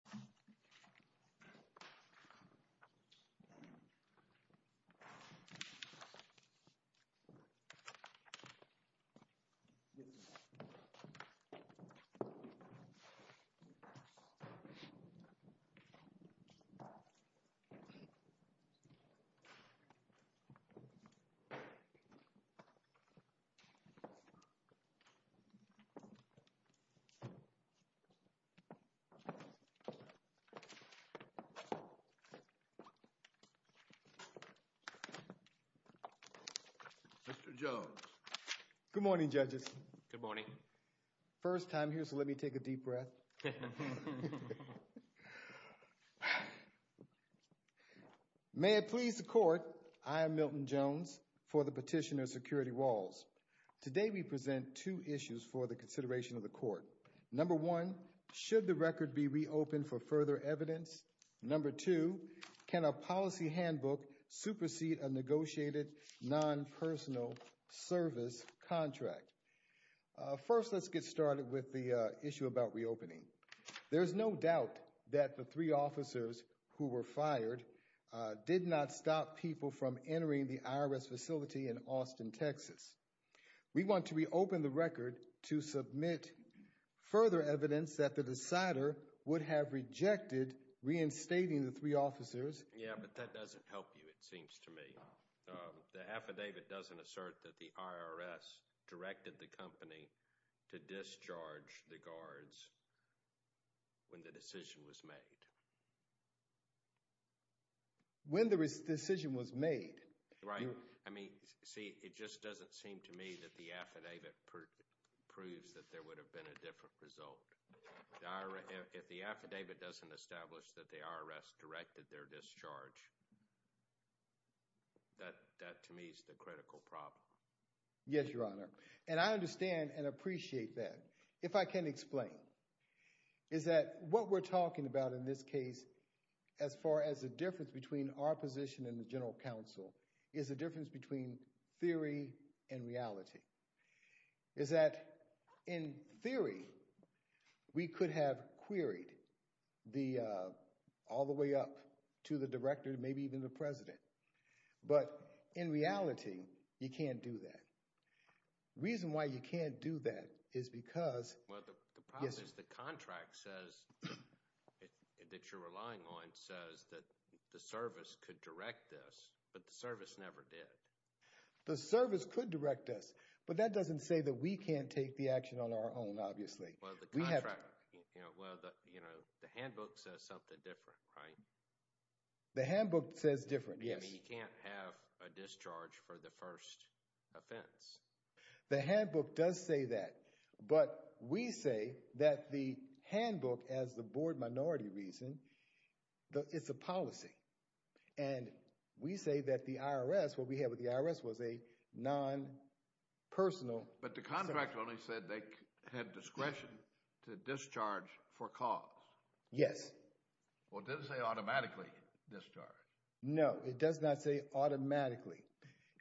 v. National Labor Relations Board, Respondent, Petitioner, Cross v. National Labor Relations Board. Mr. Jones. Good morning, judges. Good morning. First time here so let me take a deep breath. May it please the Court, I am Milton Jones for the Petitioner Security Walls. Today we present two issues for the consideration of the Court. Number one, should the record be reopened for further evidence? Number two, can a policy handbook supersede a negotiated non-personal service contract? First, let's get started with the issue about reopening. There is no doubt that the three officers who were fired did not stop people from entering the IRS facility in Austin, Texas. We want to reopen the record to submit further evidence that the decider would have rejected reinstating the three officers. Yeah, but that doesn't help you, it seems to me. The affidavit doesn't assert that the IRS directed the company to discharge the guards when the decision was made. When the decision was made. Right. I mean, see, it just doesn't seem to me that the affidavit proves that there would have been a different result. If the affidavit doesn't establish that the IRS directed their discharge, that to me is the critical problem. Yes, Your Honor. And I understand and appreciate that. If I can explain, is that what we're talking about in this case, as far as the difference between our position and the general counsel, is the difference between theory and reality. Is that in theory, we could have queried all the way up to the director, maybe even the president. But in reality, you can't do that. The reason why you can't do that is because... Well, the problem is the contract says, that you're relying on, says that the service could direct this, but the service never did. The service could direct this, but that doesn't say that we can't take the action on our own, obviously. Well, the contract, you know, the handbook says something different, right? The handbook says different, yes. I mean, you can't have a discharge for the first offense. The handbook does say that, but we say that the handbook, as the board minority reason, it's a policy. And we say that the IRS, what we had with the IRS was a non-personal service. But the contract only said they had discretion to discharge for cause. Yes. Well, it doesn't say automatically discharge. No, it does not say automatically.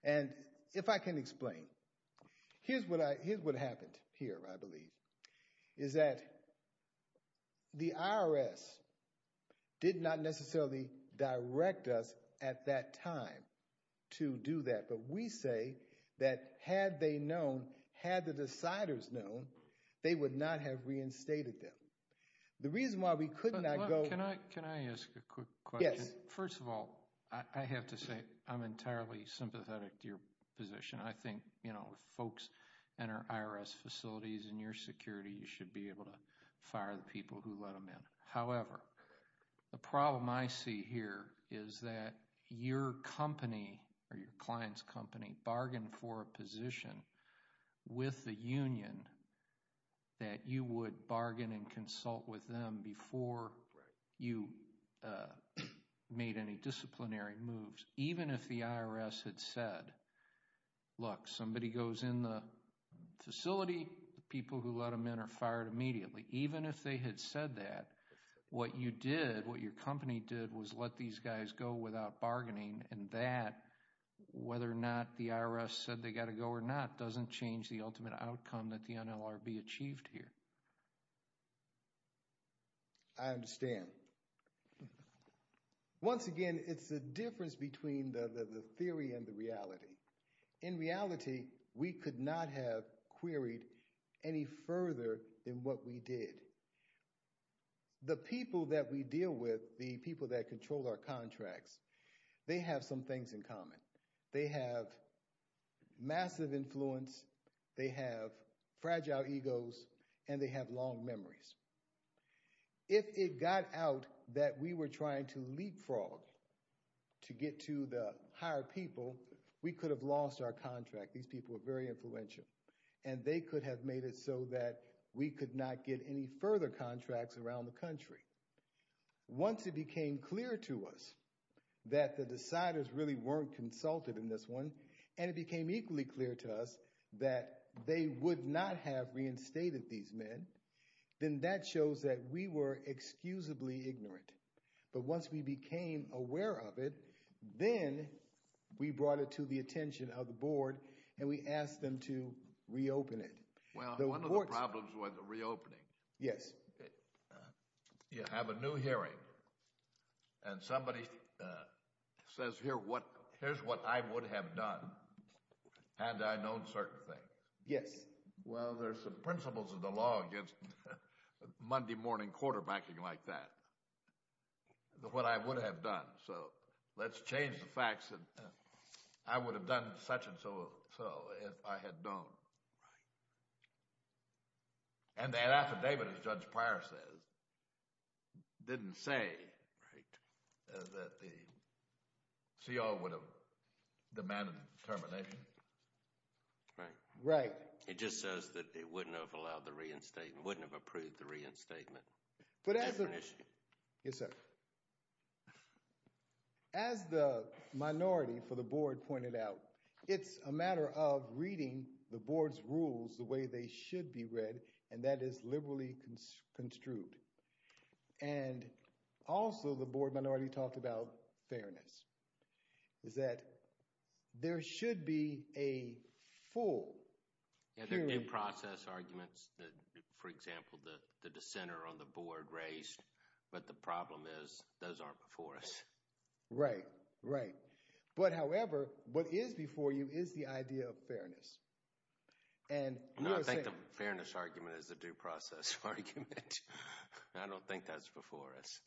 And if I can explain, here's what happened here, I believe, is that the IRS did not necessarily direct us at that time to do that. But we say that had they known, had the deciders known, they would not have reinstated them. The reason why we could not go... Can I ask a quick question? Yes. First of all, I have to say I'm entirely sympathetic to your position. I think, you know, if folks enter IRS facilities in your security, you should be able to fire the people who let them in. disciplinary moves. Even if the IRS had said, look, somebody goes in the facility, people who let them in are fired immediately. Even if they had said that, what you did, what your company did, was let these guys go without bargaining. And that, whether or not the IRS said they got to go or not, doesn't change the ultimate outcome that the NLRB achieved here. I understand. Once again, it's the difference between the theory and the reality. In reality, we could not have queried any further than what we did. The people that we deal with, the people that control our contracts, they have some things in common. They have massive influence, they have fragile egos, and they have long memories. If it got out that we were trying to leapfrog to get to the higher people, we could have lost our contract. These people are very influential. And they could have made it so that we could not get any further contracts around the country. Once it became clear to us that the deciders really weren't consulted in this one, and it became equally clear to us that they would not have reinstated these men, then that shows that we were excusably ignorant. But once we became aware of it, then we brought it to the attention of the board, and we asked them to reopen it. Well, one of the problems with reopening, you have a new hearing, and somebody says, here's what I would have done had I known certain things. Well, there's some principles of the law against Monday morning quarterbacking like that, what I would have done. So let's change the facts that I would have done such and so if I had known. And that affidavit, as Judge Pryor says, didn't say that the CO would have demanded termination. Right. It just says that it wouldn't have allowed the reinstatement, wouldn't have approved the reinstatement. Yes, sir. As the minority for the board pointed out, it's a matter of reading the board's rules the way they should be read, and that is liberally construed. And also the board minority talked about fairness, is that there should be a full hearing. Yeah, there are due process arguments that, for example, the dissenter on the board raised, but the problem is those aren't before us. Right, right. But however, what is before you is the idea of fairness. No, I think the fairness argument is the due process argument. I don't think that's before us.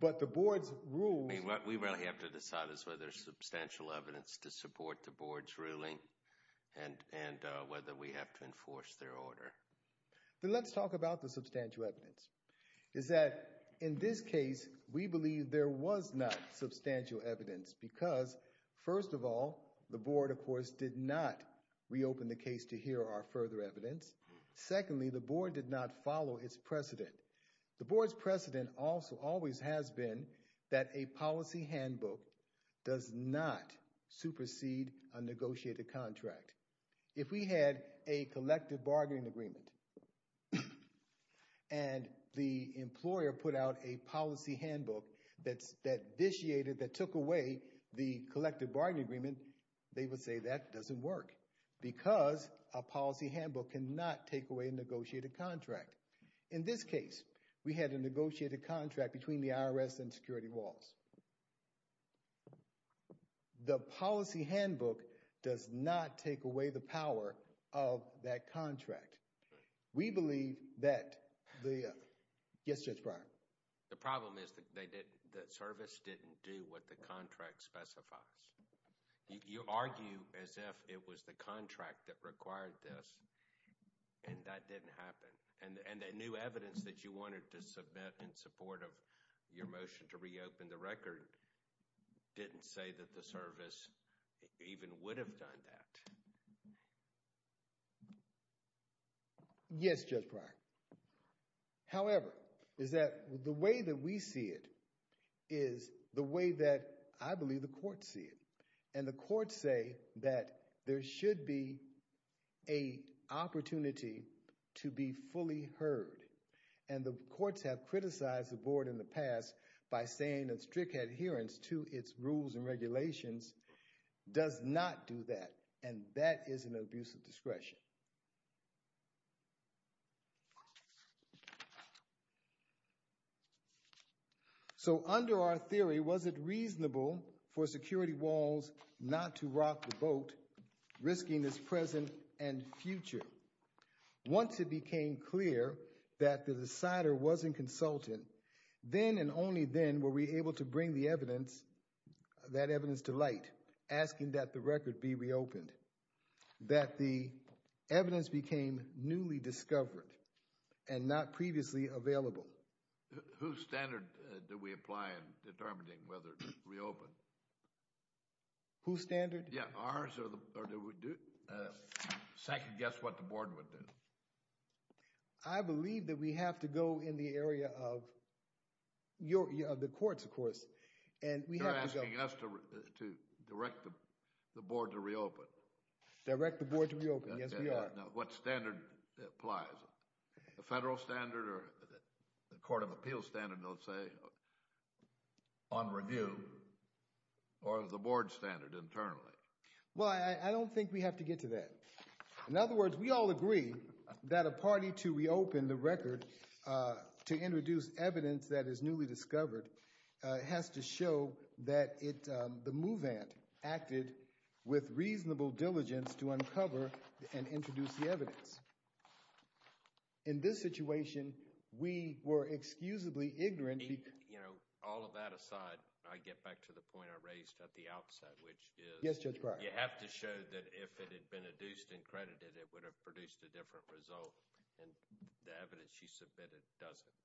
But the board's rules. I mean, what we really have to decide is whether there's substantial evidence to support the board's ruling and whether we have to enforce their order. Then let's talk about the substantial evidence. Is that in this case, we believe there was not substantial evidence because, first of all, the board, of course, did not reopen the case to hear our further evidence. Secondly, the board did not follow its precedent. The board's precedent also always has been that a policy handbook does not supersede a negotiated contract. If we had a collective bargaining agreement and the employer put out a policy handbook that took away the collective bargaining agreement, they would say that doesn't work because a policy handbook cannot take away a negotiated contract. In this case, we had a negotiated contract between the IRS and Security Walls. The policy handbook does not take away the power of that contract. We believe that the – yes, Judge Breyer. The problem is that the service didn't do what the contract specifies. You argue as if it was the contract that required this, and that didn't happen. And the new evidence that you wanted to submit in support of your motion to reopen the record didn't say that the service even would have done that. Yes, Judge Breyer. However, is that the way that we see it is the way that I believe the courts see it. And the courts say that there should be a opportunity to be fully heard. And the courts have criticized the board in the past by saying that strict adherence to its rules and regulations does not do that, and that is an abuse of discretion. So under our theory, was it reasonable for Security Walls not to rock the boat, risking its present and future? Once it became clear that the decider wasn't consulting, then and only then were we able to bring the evidence, that evidence to light, asking that the record be reopened. That the evidence became newly discovered and not previously available. Whose standard do we apply in determining whether to reopen? Whose standard? Yeah, ours, or do we second guess what the board would do? I believe that we have to go in the area of the courts, of course. You're asking us to direct the board to reopen. Direct the board to reopen, yes we are. What standard applies? The federal standard or the court of appeals standard, let's say, on review? Or the board standard internally? Well, I don't think we have to get to that. In other words, we all agree that a party to reopen the record, to introduce evidence that is newly discovered, has to show that the move ant acted with reasonable diligence to uncover and introduce the evidence. In this situation, we were excusably ignorant. All of that aside, I get back to the point I raised at the outset, which is you have to show that if it had been adduced and credited, it would have produced a different result. And the evidence you submitted doesn't.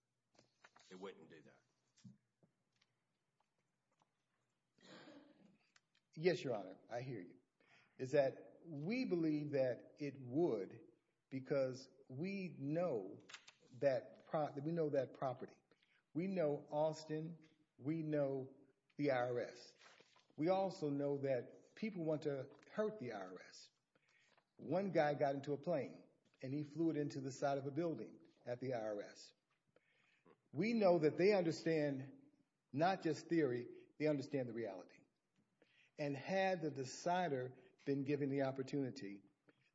It wouldn't do that. Yes, Your Honor, I hear you. We believe that it would because we know that property. We know Austin. We know the IRS. We also know that people want to hurt the IRS. One guy got into a plane and he flew it into the side of a building at the IRS. We know that they understand not just theory, they understand the reality. And had the decider been given the opportunity,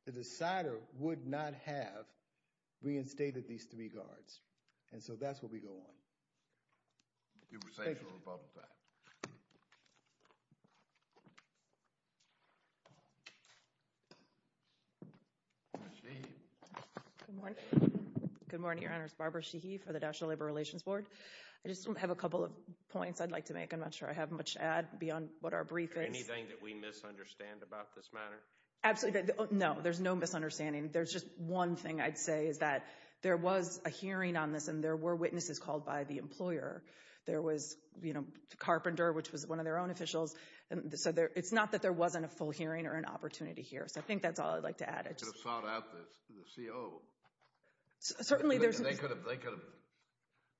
the decider would not have reinstated these three guards. And so that's where we go on. You were saying something about that. Good morning. Good morning, Your Honors. Barbara Sheehy for the National Labor Relations Board. I just have a couple of points I'd like to make. I'm not sure I have much to add beyond what our brief is. Is there anything that we misunderstand about this matter? Absolutely. No, there's no misunderstanding. There's just one thing I'd say is that there was a hearing on this and there were witnesses called by the employer. There was, you know, Carpenter, which was one of their own officials. So it's not that there wasn't a full hearing or an opportunity here. So I think that's all I'd like to add. They could have sought out the CO. Certainly. They could have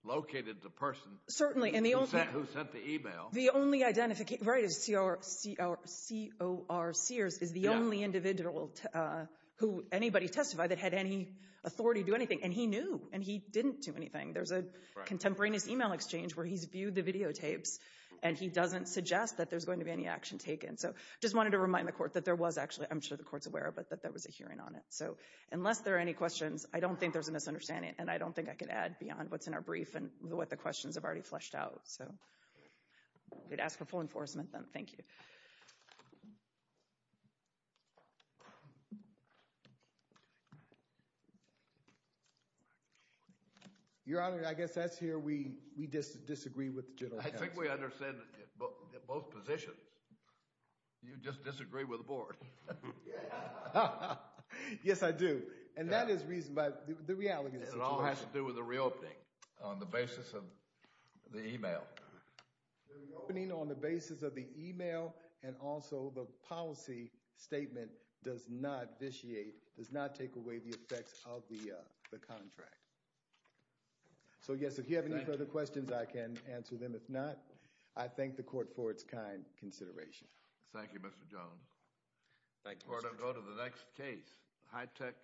located the person. Certainly. Who sent the e-mail. The only identification, right, is C.O.R. Sears is the only individual who anybody testified that had any authority to do anything. And he knew. And he didn't do anything. There's a contemporaneous e-mail exchange where he's viewed the videotapes and he doesn't suggest that there's going to be any action taken. So I just wanted to remind the Court that there was actually, I'm sure the Court's aware of it, that there was a hearing on it. So unless there are any questions, I don't think there's a misunderstanding. And I don't think I can add beyond what's in our brief and what the questions have already fleshed out. So I'd ask for full enforcement then. Thank you. Your Honor, I guess that's here we disagree with the General Counsel. I think we understand both positions. You just disagree with the Board. Yes, I do. And that is the reality of the situation. It all has to do with the reopening on the basis of the e-mail. The reopening on the basis of the e-mail and also the policy statement does not vitiate, does not take away the effects of the contract. So, yes, if you have any further questions, I can answer them. If not, I thank the Court for its kind consideration. Thank you, Mr. Jones. Thank you. We're going to go to the next case, high-tech.